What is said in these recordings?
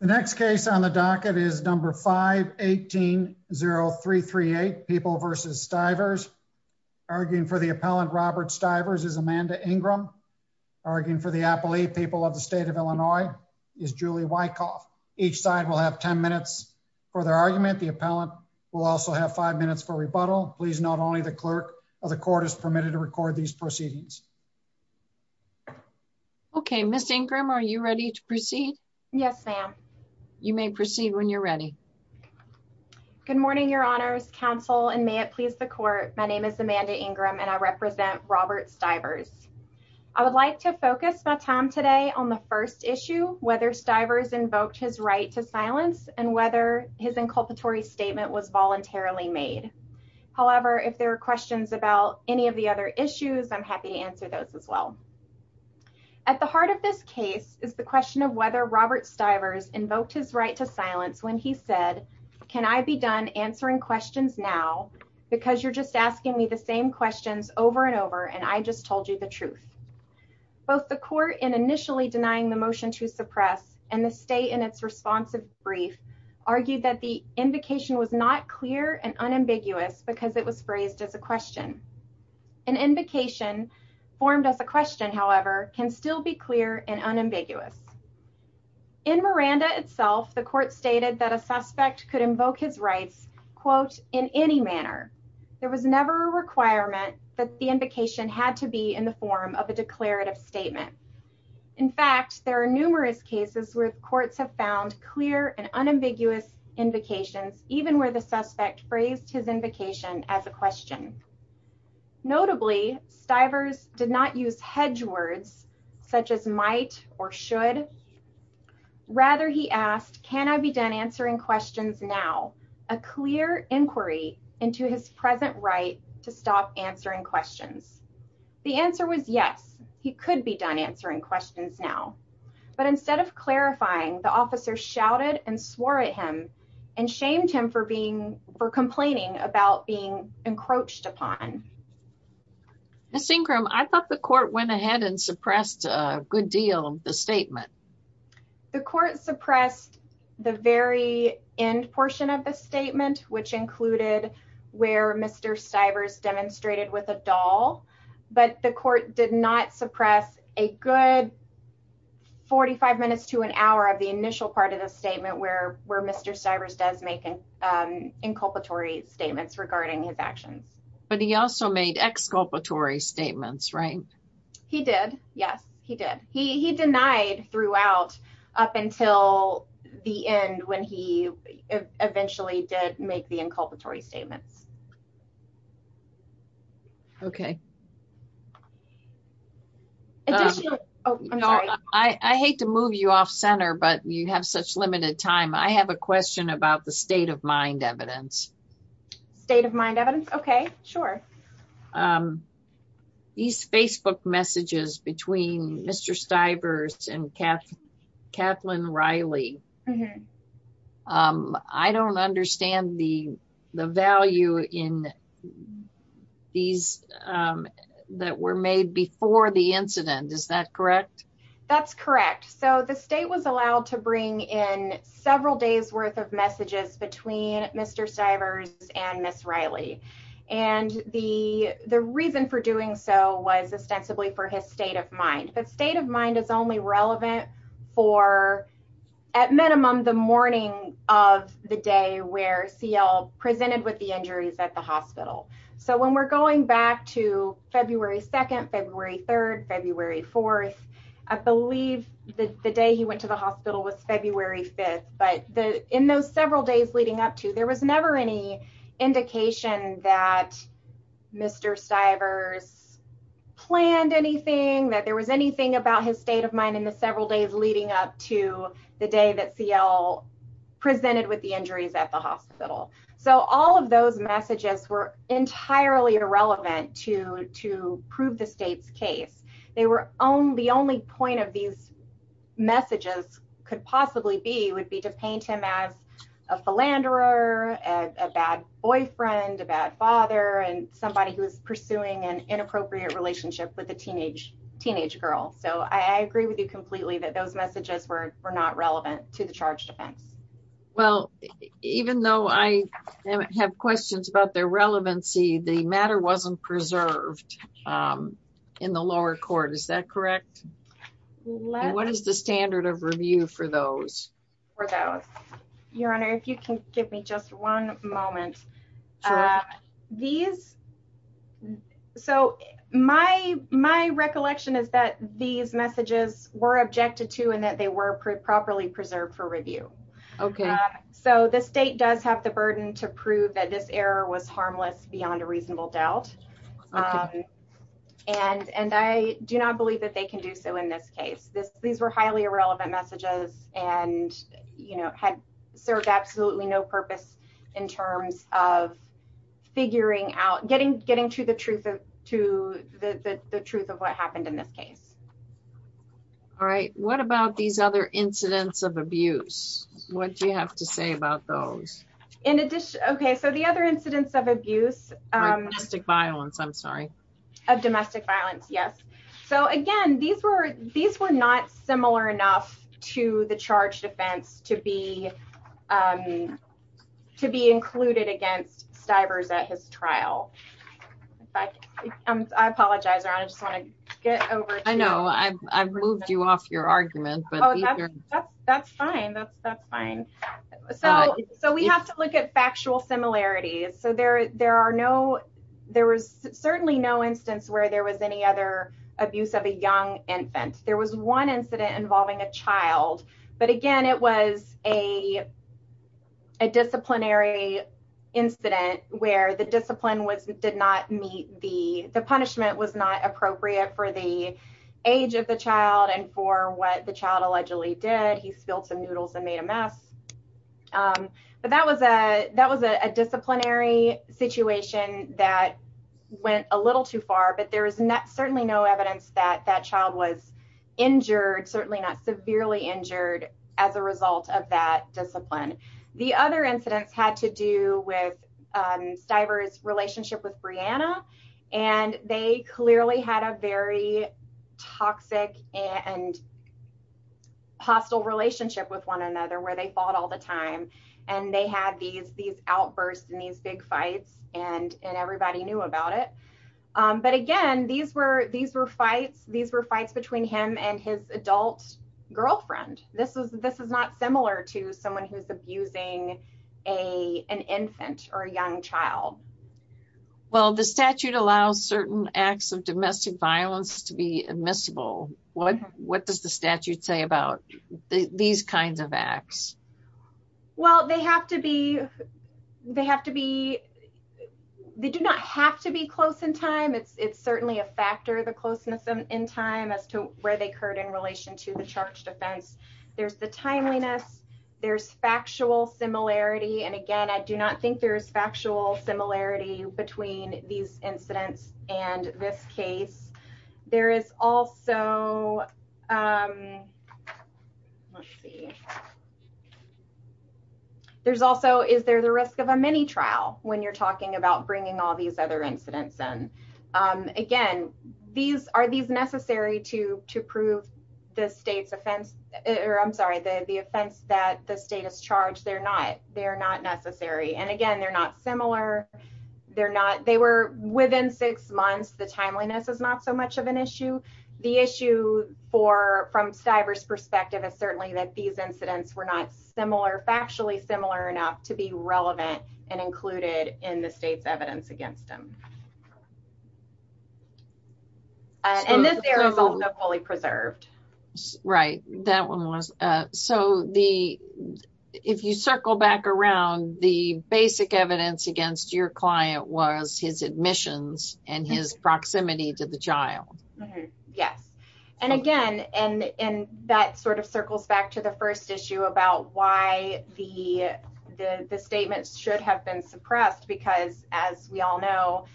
The next case on the docket is number 518-0338, People v. Stivers. Arguing for the appellant, Robert Stivers, is Amanda Ingram. Arguing for the appellee, People of the State of Illinois, is Julie Wykoff. Each side will have 10 minutes for their argument. The appellant will also have 5 minutes for rebuttal. Please note only the clerk of the court is permitted to record these proceedings. Okay, Ms. Ingram, are you ready to proceed? Yes, ma'am. You may proceed when you're ready. Good morning, Your Honors, Counsel, and may it please the court. My name is Amanda Ingram, and I represent Robert Stivers. I would like to focus my time today on the first issue, whether Stivers invoked his right to silence and whether his inculpatory statement was voluntarily made. However, if there are questions about any of the other issues, I'm happy to answer those as well. At the heart of this case is the question of whether Robert Stivers invoked his right to silence when he said, Can I be done answering questions now because you're just asking me the same questions over and over and I just told you the truth. Both the court in initially denying the motion to suppress and the state in its responsive brief argued that the invocation was not clear and unambiguous because it was phrased as a question. An invocation formed as a question, however, can still be clear and unambiguous. In Miranda itself, the court stated that a suspect could invoke his rights, quote, in any manner. There was never a requirement that the invocation had to be in the form of a declarative statement. In fact, there are numerous cases where courts have found clear and unambiguous invocations, even where the suspect phrased his invocation as a question. Notably, Stivers did not use hedge words such as might or should. Rather, he asked, Can I be done answering questions now? A clear inquiry into his present right to stop answering questions. The answer was yes, he could be done answering questions now. But instead of clarifying the officer shouted and swore at him and shamed him for being for complaining about being encroached upon. Synchron, I thought the court went ahead and suppressed a good deal of the statement. The court suppressed the very end portion of the statement, which included where Mr. Stivers demonstrated with a doll. But the court did not suppress a good. Forty five minutes to an hour of the initial part of the statement where where Mr. Stivers does make an inculpatory statements regarding his actions. But he also made exculpatory statements, right? He did. Yes, he did. He denied throughout up until the end when he eventually did make the inculpatory statements. OK. I hate to move you off center, but you have such limited time. I have a question about the state of mind evidence. State of mind evidence. OK, sure. These Facebook messages between Mr. Stivers and Kath Kathleen Riley. I don't understand the the value in these that were made before the incident. Is that correct? That's correct. So the state was allowed to bring in several days worth of messages between Mr. Stivers and Miss Riley. And the the reason for doing so was ostensibly for his state of mind. But state of mind is only relevant for, at minimum, the morning of the day where CL presented with the injuries at the hospital. So when we're going back to February 2nd, February 3rd, February 4th, I believe the day he went to the hospital was February 5th. But in those several days leading up to there was never any indication that Mr. Stivers planned anything, that there was anything about his state of mind in the several days leading up to the day that CL presented with the injuries at the hospital. So all of those messages were entirely irrelevant to to prove the state's case. They were on the only point of these messages could possibly be would be to paint him as a philanderer, a bad boyfriend, a bad father and somebody who is pursuing an inappropriate relationship with a teenage teenage girl. So I agree with you completely that those messages were not relevant to the charge defense. Well, even though I have questions about their relevancy, the matter wasn't preserved in the lower court, is that correct? What is the standard of review for those? Your Honor, if you can give me just one moment. These. So my my recollection is that these messages were objected to and that they were properly preserved for review. OK, so the state does have the burden to prove that this error was harmless beyond a reasonable doubt. And and I do not believe that they can do so in this case. These were highly irrelevant messages and, you know, had served absolutely no purpose in terms of figuring out getting getting to the truth to the truth of what happened in this case. All right. What about these other incidents of abuse? What do you have to say about those? In addition. OK, so the other incidents of abuse, domestic violence, I'm sorry, of domestic violence. Yes. So, again, these were these were not similar enough to the charge defense to be to be included against Stivers at his trial. I apologize. I just want to get over. I know I've moved you off your argument, but that's fine. That's fine. So so we have to look at factual similarities. So there there are no there was certainly no instance where there was any other abuse of a young infant. There was one incident involving a child. But again, it was a. A disciplinary incident where the discipline was did not meet the the punishment was not appropriate for the age of the child and for what the child allegedly did. He spilled some noodles and made a mess. But that was a that was a disciplinary situation that went a little too far. But there is certainly no evidence that that child was injured, certainly not severely injured as a result of that discipline. The other incidents had to do with Stivers relationship with Brianna, and they clearly had a very toxic and. Hostile relationship with one another where they fought all the time and they had these these outbursts and these big fights and and everybody knew about it. But again, these were these were fights. These were fights between him and his adult girlfriend. This is this is not similar to someone who's abusing a an infant or a young child. Well, the statute allows certain acts of domestic violence to be admissible. What what does the statute say about these kinds of acts? Well, they have to be they have to be they do not have to be close in time. It's it's certainly a factor of the closeness in time as to where they occurred in relation to the charge defense. There's the timeliness. There's factual similarity. And again, I do not think there is factual similarity between these incidents and this case. There is also. Let's see. There's also is there the risk of a mini trial when you're talking about bringing all these other incidents in again? These are these necessary to to prove the state's offense or I'm sorry, the offense that the state has charged. They're not they're not necessary. And again, they're not similar. They're not they were within six months. The timeliness is not so much of an issue. The issue for from Stiver's perspective is certainly that these incidents were not similar, factually similar enough to be relevant and included in the state's evidence against them. And this is also fully preserved. Right. That one was. So the if you circle back around the basic evidence against your client was his admissions and his proximity to the child. Yes. And again, and that sort of circles back to the first issue about why the the statements should have been suppressed, because as we all know,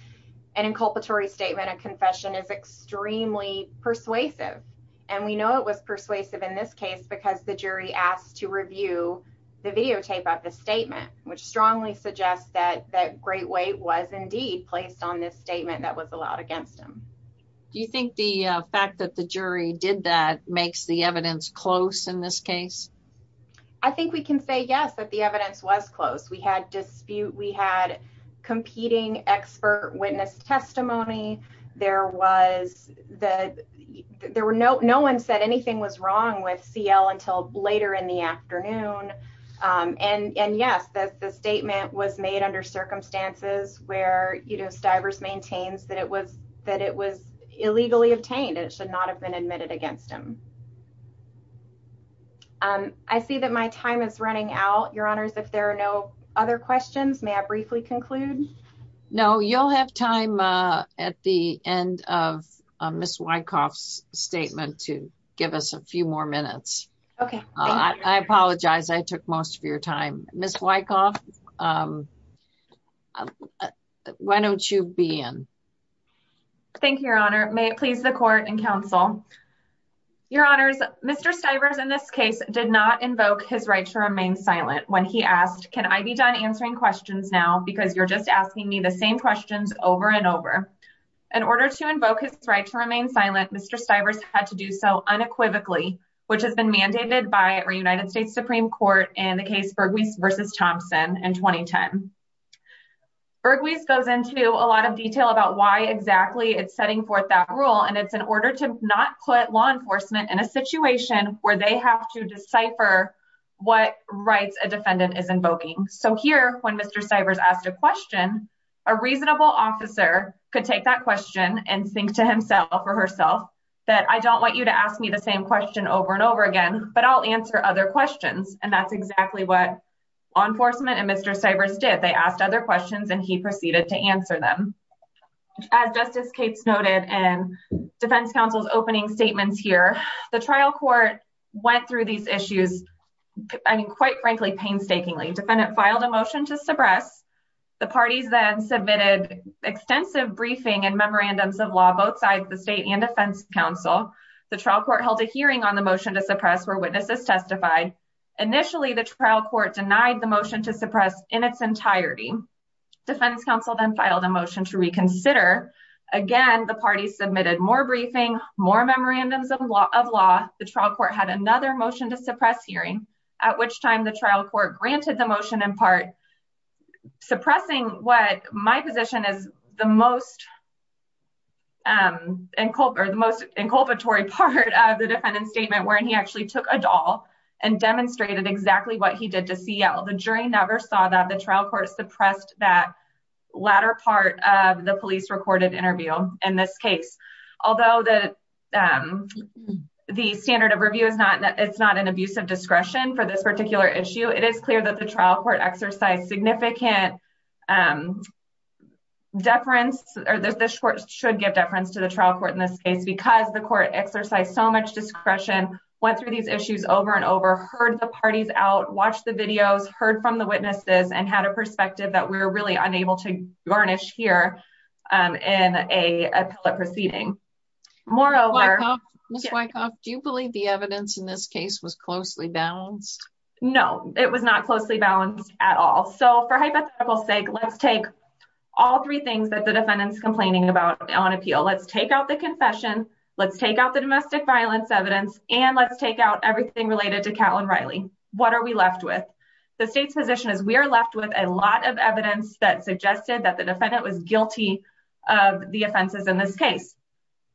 an inculpatory statement, a confession is extremely persuasive. And we know it was persuasive in this case because the jury asked to review the videotape of the statement, which strongly suggests that that great weight was indeed placed on this statement that was allowed against him. Do you think the fact that the jury did that makes the evidence close in this case? I think we can say, yes, that the evidence was close. We had dispute. We had competing expert witness testimony. There was that there were no no one said anything was wrong with CL until later in the afternoon. And yes, that the statement was made under circumstances where Stivers maintains that it was that it was illegally obtained. It should not have been admitted against him. I see that my time is running out. Your honors, if there are no other questions, may I briefly conclude? No, you'll have time at the end of Miss Wyckoff's statement to give us a few more minutes. OK, I apologize. I took most of your time. Miss Wyckoff, why don't you be in? Thank you, Your Honor. May it please the court and counsel. Your honors, Mr. Stivers in this case did not invoke his right to remain silent when he asked, can I be done answering questions now? Because you're just asking me the same questions over and over. In order to invoke his right to remain silent, Mr. Stivers had to do so unequivocally, which has been mandated by our United States Supreme Court in the case Burgess versus Thompson in 2010. Burgess goes into a lot of detail about why exactly it's setting forth that rule. And it's in order to not put law enforcement in a situation where they have to decipher what rights a defendant is invoking. So here, when Mr. Stivers asked a question, a reasonable officer could take that question and think to himself or herself that I don't want you to ask me the same question over and over again. But I'll answer other questions. And that's exactly what law enforcement and Mr. Stivers did. They asked other questions and he proceeded to answer them. As Justice Cates noted, and defense counsel's opening statements here, the trial court went through these issues. I mean, quite frankly, painstakingly, defendant filed a motion to suppress. The parties then submitted extensive briefing and memorandums of law, both sides, the state and defense counsel. The trial court held a hearing on the motion to suppress where witnesses testified. Initially, the trial court denied the motion to suppress in its entirety. Defense counsel then filed a motion to reconsider. Again, the party submitted more briefing, more memorandums of law. The trial court had another motion to suppress hearing, at which time the trial court granted the motion, in part, suppressing what my position is, the most inculpatory part of the defendant's statement, wherein he actually took a doll and demonstrated exactly what he did to CL. The jury never saw that. The trial court suppressed that latter part of the police-recorded interview in this case. Although the standard of review is not an abuse of discretion for this particular issue, it is clear that the trial court exercised significant deference, or this court should give deference to the trial court in this case, because the court exercised so much discretion, went through these issues over and over, heard the parties out, watched the videos, heard from the witnesses, and had a perspective that we're really unable to garnish here in an appellate proceeding. Moreover... Ms. Wykoff, do you believe the evidence in this case was closely balanced? No, it was not closely balanced at all. So, for hypothetical sake, let's take all three things that the defendant's complaining about on appeal. Let's take out the confession, let's take out the domestic violence evidence, and let's take out everything related to Catlin Riley. What are we left with? The state's position is we are left with a lot of evidence that suggested that the defendant was guilty of the offenses in this case.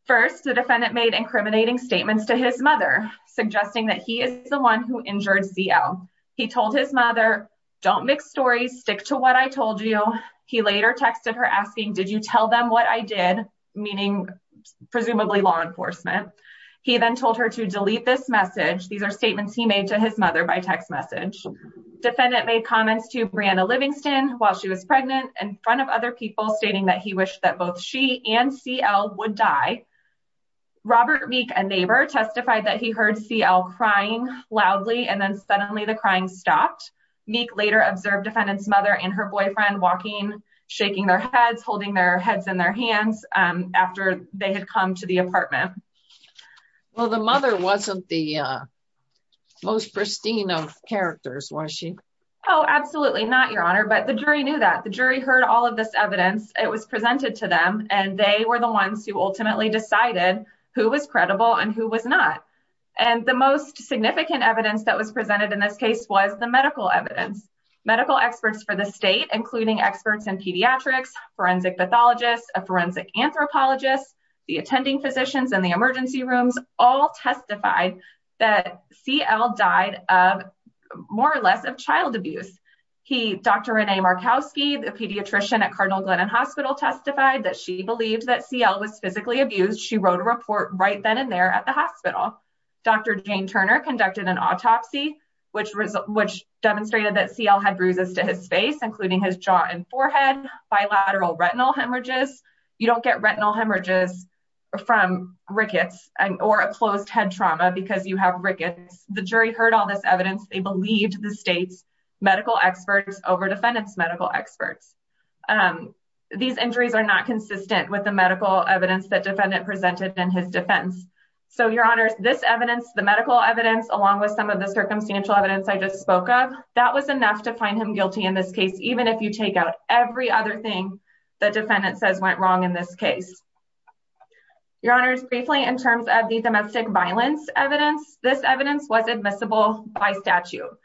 First, the defendant made incriminating statements to his mother, suggesting that he is the one who injured CL. He told his mother, don't mix stories, stick to what I told you. He later texted her asking, did you tell them what I did? Meaning, presumably law enforcement. He then told her to delete this message. These are statements he made to his mother by text message. Defendant made comments to Brianna Livingston while she was pregnant in front of other people, stating that he wished that both she and CL would die. Robert Meek, a neighbor, testified that he heard CL crying loudly, and then suddenly the crying stopped. Meek later observed defendant's mother and her boyfriend walking, shaking their heads, holding their heads in their hands after they had come to the apartment. Well, the mother wasn't the most pristine of characters, was she? Oh, absolutely not, Your Honor, but the jury knew that. The jury heard all of this evidence. It was presented to them, and they were the ones who ultimately decided who was credible and who was not. And the most significant evidence that was presented in this case was the medical evidence. Medical experts for the state, including experts in pediatrics, forensic pathologists, a forensic anthropologist, the attending physicians in the emergency rooms, all testified that CL died of more or less of child abuse. Dr. Renee Markowski, the pediatrician at Cardinal Glennon Hospital, testified that she believed that CL was physically abused. She wrote a report right then and there at the hospital. Dr. Jane Turner conducted an autopsy, which demonstrated that CL had bruises to his face, including his jaw and forehead, bilateral retinal hemorrhages. You don't get retinal hemorrhages from rickets or a closed head trauma because you have rickets. The jury heard all this evidence. They believed the state's medical experts over defendant's medical experts. These injuries are not consistent with the medical evidence that defendant presented in his defense. So, Your Honor, this evidence, the medical evidence, along with some of the circumstantial evidence I just spoke of, that was enough to find him guilty in this case, even if you take out every other thing that defendant says went wrong in this case. Your Honor, briefly, in terms of the domestic violence evidence, this evidence was admissible by statute.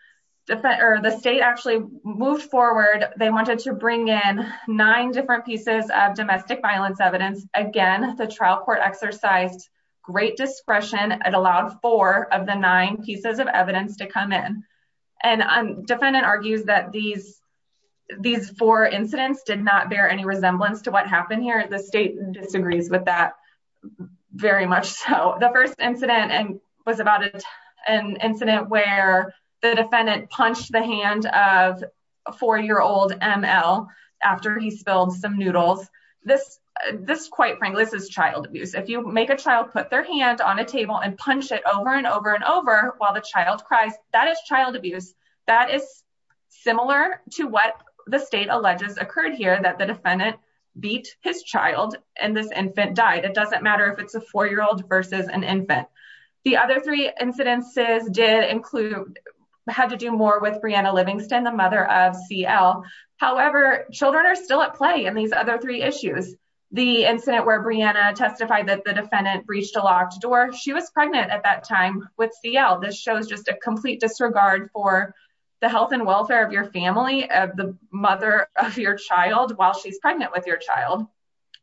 The state actually moved forward. They wanted to bring in nine different pieces of domestic violence evidence. Again, the trial court exercised great discretion and allowed four of the nine pieces of evidence to come in. And defendant argues that these four incidents did not bear any resemblance to what happened here. The state disagrees with that very much so. The first incident was about an incident where the defendant punched the hand of a four-year-old ML after he spilled some noodles. This, quite frankly, this is child abuse. If you make a child put their hand on a table and punch it over and over and over while the child cries, that is child abuse. That is similar to what the state alleges occurred here, that the defendant beat his child and this infant died. It doesn't matter if it's a four-year-old versus an infant. The other three incidences did include, had to do more with Brianna Livingston, the mother of CL. However, children are still at play in these other three issues. The incident where Brianna testified that the defendant breached a locked door. She was pregnant at that time with CL. This shows just a complete disregard for the health and welfare of your family, of the mother of your child while she's pregnant with your child.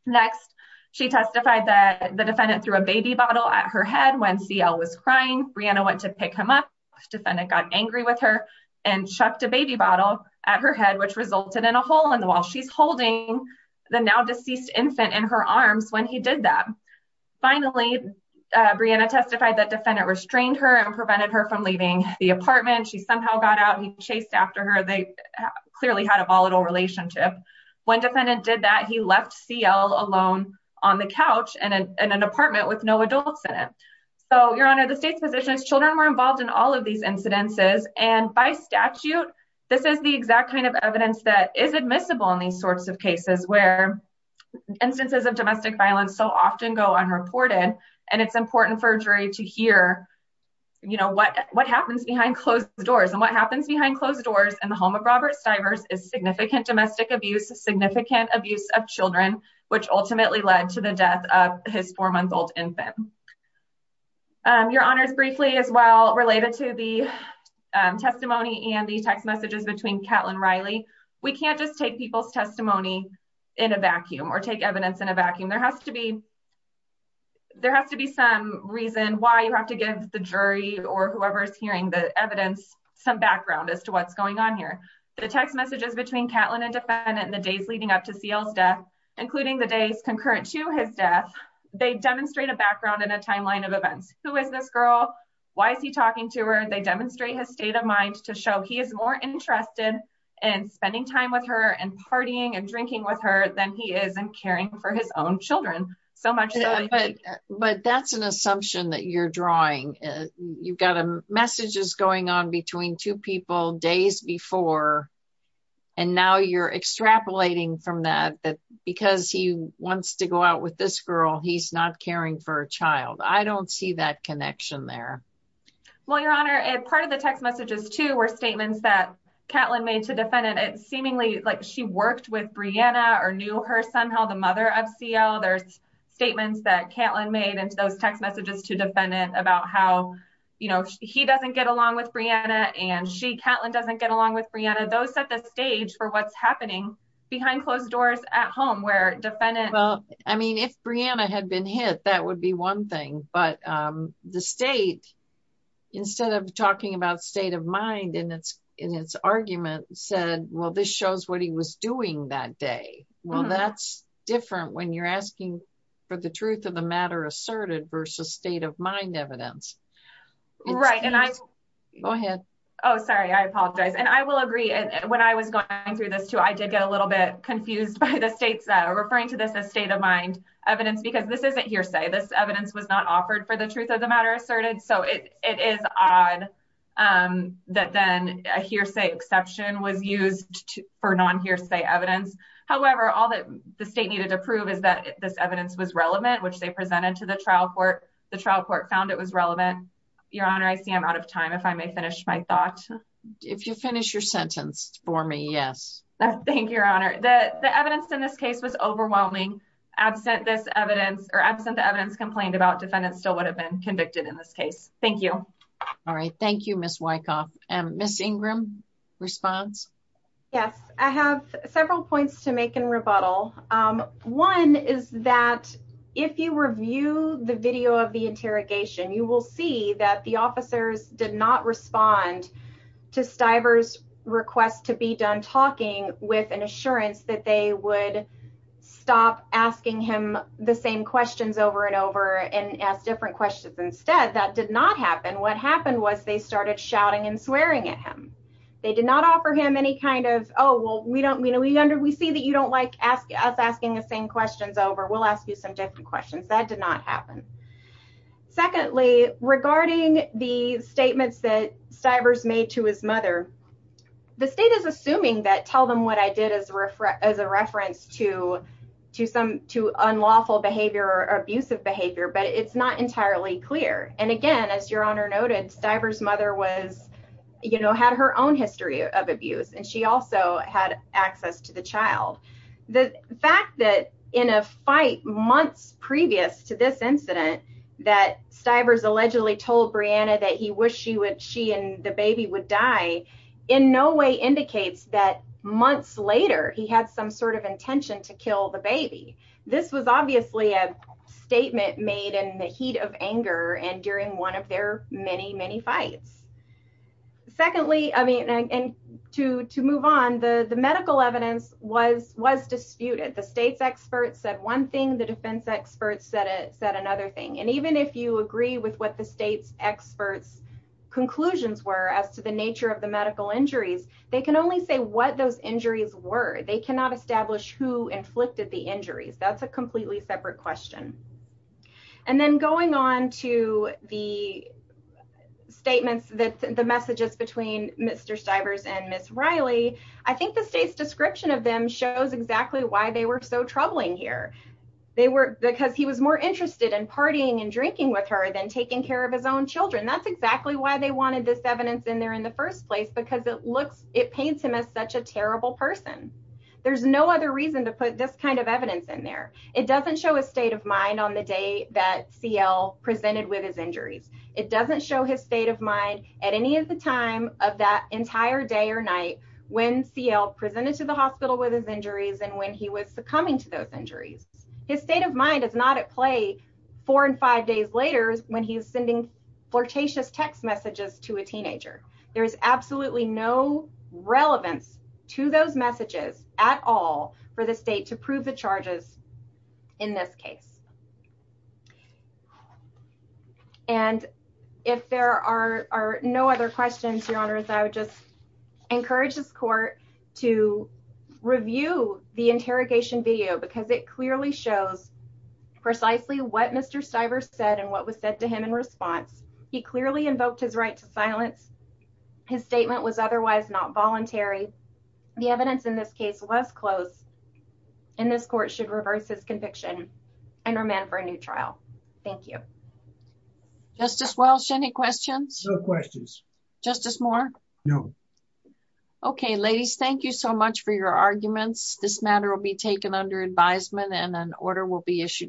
Next, she testified that the defendant threw a baby bottle at her head when CL was crying. Brianna went to pick him up. Defendant got angry with her and chucked a baby bottle at her head, which resulted in a hole in the wall. She's holding the now deceased infant in her arms when he did that. Finally, Brianna testified that defendant restrained her and prevented her from leaving the apartment. She somehow got out and he chased after her. They clearly had a volatile relationship. When defendant did that, he left CL alone on the couch in an apartment with no adults in it. Your Honor, the state's position is children were involved in all of these incidences. By statute, this is the exact kind of evidence that is admissible in these sorts of cases where instances of domestic violence so often go unreported. It's important for jury to hear what happens behind closed doors. What happens behind closed doors in the home of Robert Stivers is significant domestic abuse, significant abuse of children, which ultimately led to the death of his four-month-old infant. Your Honor, briefly as well, related to the testimony and the text messages between Catlin and Riley, we can't just take people's testimony in a vacuum or take evidence in a vacuum. There has to be some reason why you have to give the jury or whoever is hearing the evidence some background as to what's going on here. The text messages between Catlin and defendant in the days leading up to CL's death, including the days concurrent to his death, they demonstrate a background and a timeline of events. Who is this girl? Why is he talking to her? They demonstrate his state of mind to show he is more interested in spending time with her and partying and drinking with her than he is in caring for his own children. But that's an assumption that you're drawing. You've got messages going on between two people days before, and now you're extrapolating from that because he wants to go out with this girl, he's not caring for a child. I don't see that connection there. Well, Your Honor, part of the text messages too were statements that Catlin made to defendant. She worked with Brianna or knew her somehow, the mother of CL. There's statements that Catlin made into those text messages to defendant about how he doesn't get along with Brianna and Catlin doesn't get along with Brianna. Those set the stage for what's happening behind closed doors at home where defendant... Well, this shows what he was doing that day. Well, that's different when you're asking for the truth of the matter asserted versus state of mind evidence. Right. And I... Go ahead. Oh, sorry. I apologize. And I will agree. When I was going through this too, I did get a little bit confused by the states that are referring to this as state of mind evidence because this isn't hearsay. This evidence was not offered for the truth of the matter asserted. So it is odd that then a hearsay exception was used for non hearsay evidence. However, all that the state needed to prove is that this evidence was relevant, which they presented to the trial court. The trial court found it was relevant. Your Honor, I see I'm out of time. If I may finish my thought. If you finish your sentence for me, yes. Thank you, Your Honor. Your Honor, the evidence in this case was overwhelming. Absent this evidence or absent the evidence complained about, defendant still would have been convicted in this case. Thank you. All right. Thank you, Ms. Wykoff. Ms. Ingram, response? Yes, I have several points to make in rebuttal. One is that if you review the video of the interrogation, you will see that the officers did not respond to Stiver's request to be done talking with an assurance that they would stop asking him the same questions over and over and ask different questions instead. That did not happen. What happened was they started shouting and swearing at him. They did not offer him any kind of, oh, well, we see that you don't like us asking the same questions over. We'll ask you some different questions. That did not happen. Secondly, regarding the statements that Stiver's made to his mother, the state is assuming that tell them what I did as a reference to unlawful behavior or abusive behavior, but it's not entirely clear. And again, as Your Honor noted, Stiver's mother had her own history of abuse, and she also had access to the child. The fact that in a fight months previous to this incident that Stiver's allegedly told Brianna that he wished she and the baby would die in no way indicates that months later he had some sort of intention to kill the baby. This was obviously a statement made in the heat of anger and during one of their many, many fights. Secondly, and to move on, the medical evidence was disputed. The state's experts said one thing. The defense experts said another thing. And even if you agree with what the state's experts' conclusions were as to the nature of the medical injuries, they can only say what those injuries were. They cannot establish who inflicted the injuries. That's a completely separate question. And then going on to the statements that the messages between Mr. Stiver's and Miss Riley, I think the state's description of them shows exactly why they were so troubling here. Because he was more interested in partying and drinking with her than taking care of his own children. That's exactly why they wanted this evidence in there in the first place, because it paints him as such a terrible person. There's no other reason to put this kind of evidence in there. It doesn't show his state of mind on the day that CL presented with his injuries. It doesn't show his state of mind at any of the time of that entire day or night when CL presented to the hospital with his injuries and when he was succumbing to those injuries. His state of mind is not at play four and five days later when he's sending flirtatious text messages to a teenager. There is absolutely no relevance to those messages at all for the state to prove the charges in this case. And if there are no other questions, Your Honors, I would just encourage this court to review the interrogation video because it clearly shows precisely what Mr. Stiver said and what was said to him in response. He clearly invoked his right to silence. His statement was otherwise not voluntary. The evidence in this case was close. And this court should reverse his conviction. And remand for a new trial. Thank you. Justice Welch, any questions? No questions. Justice Moore? No. Okay, ladies, thank you so much for your arguments. This matter will be taken under advisement and an order will be issued.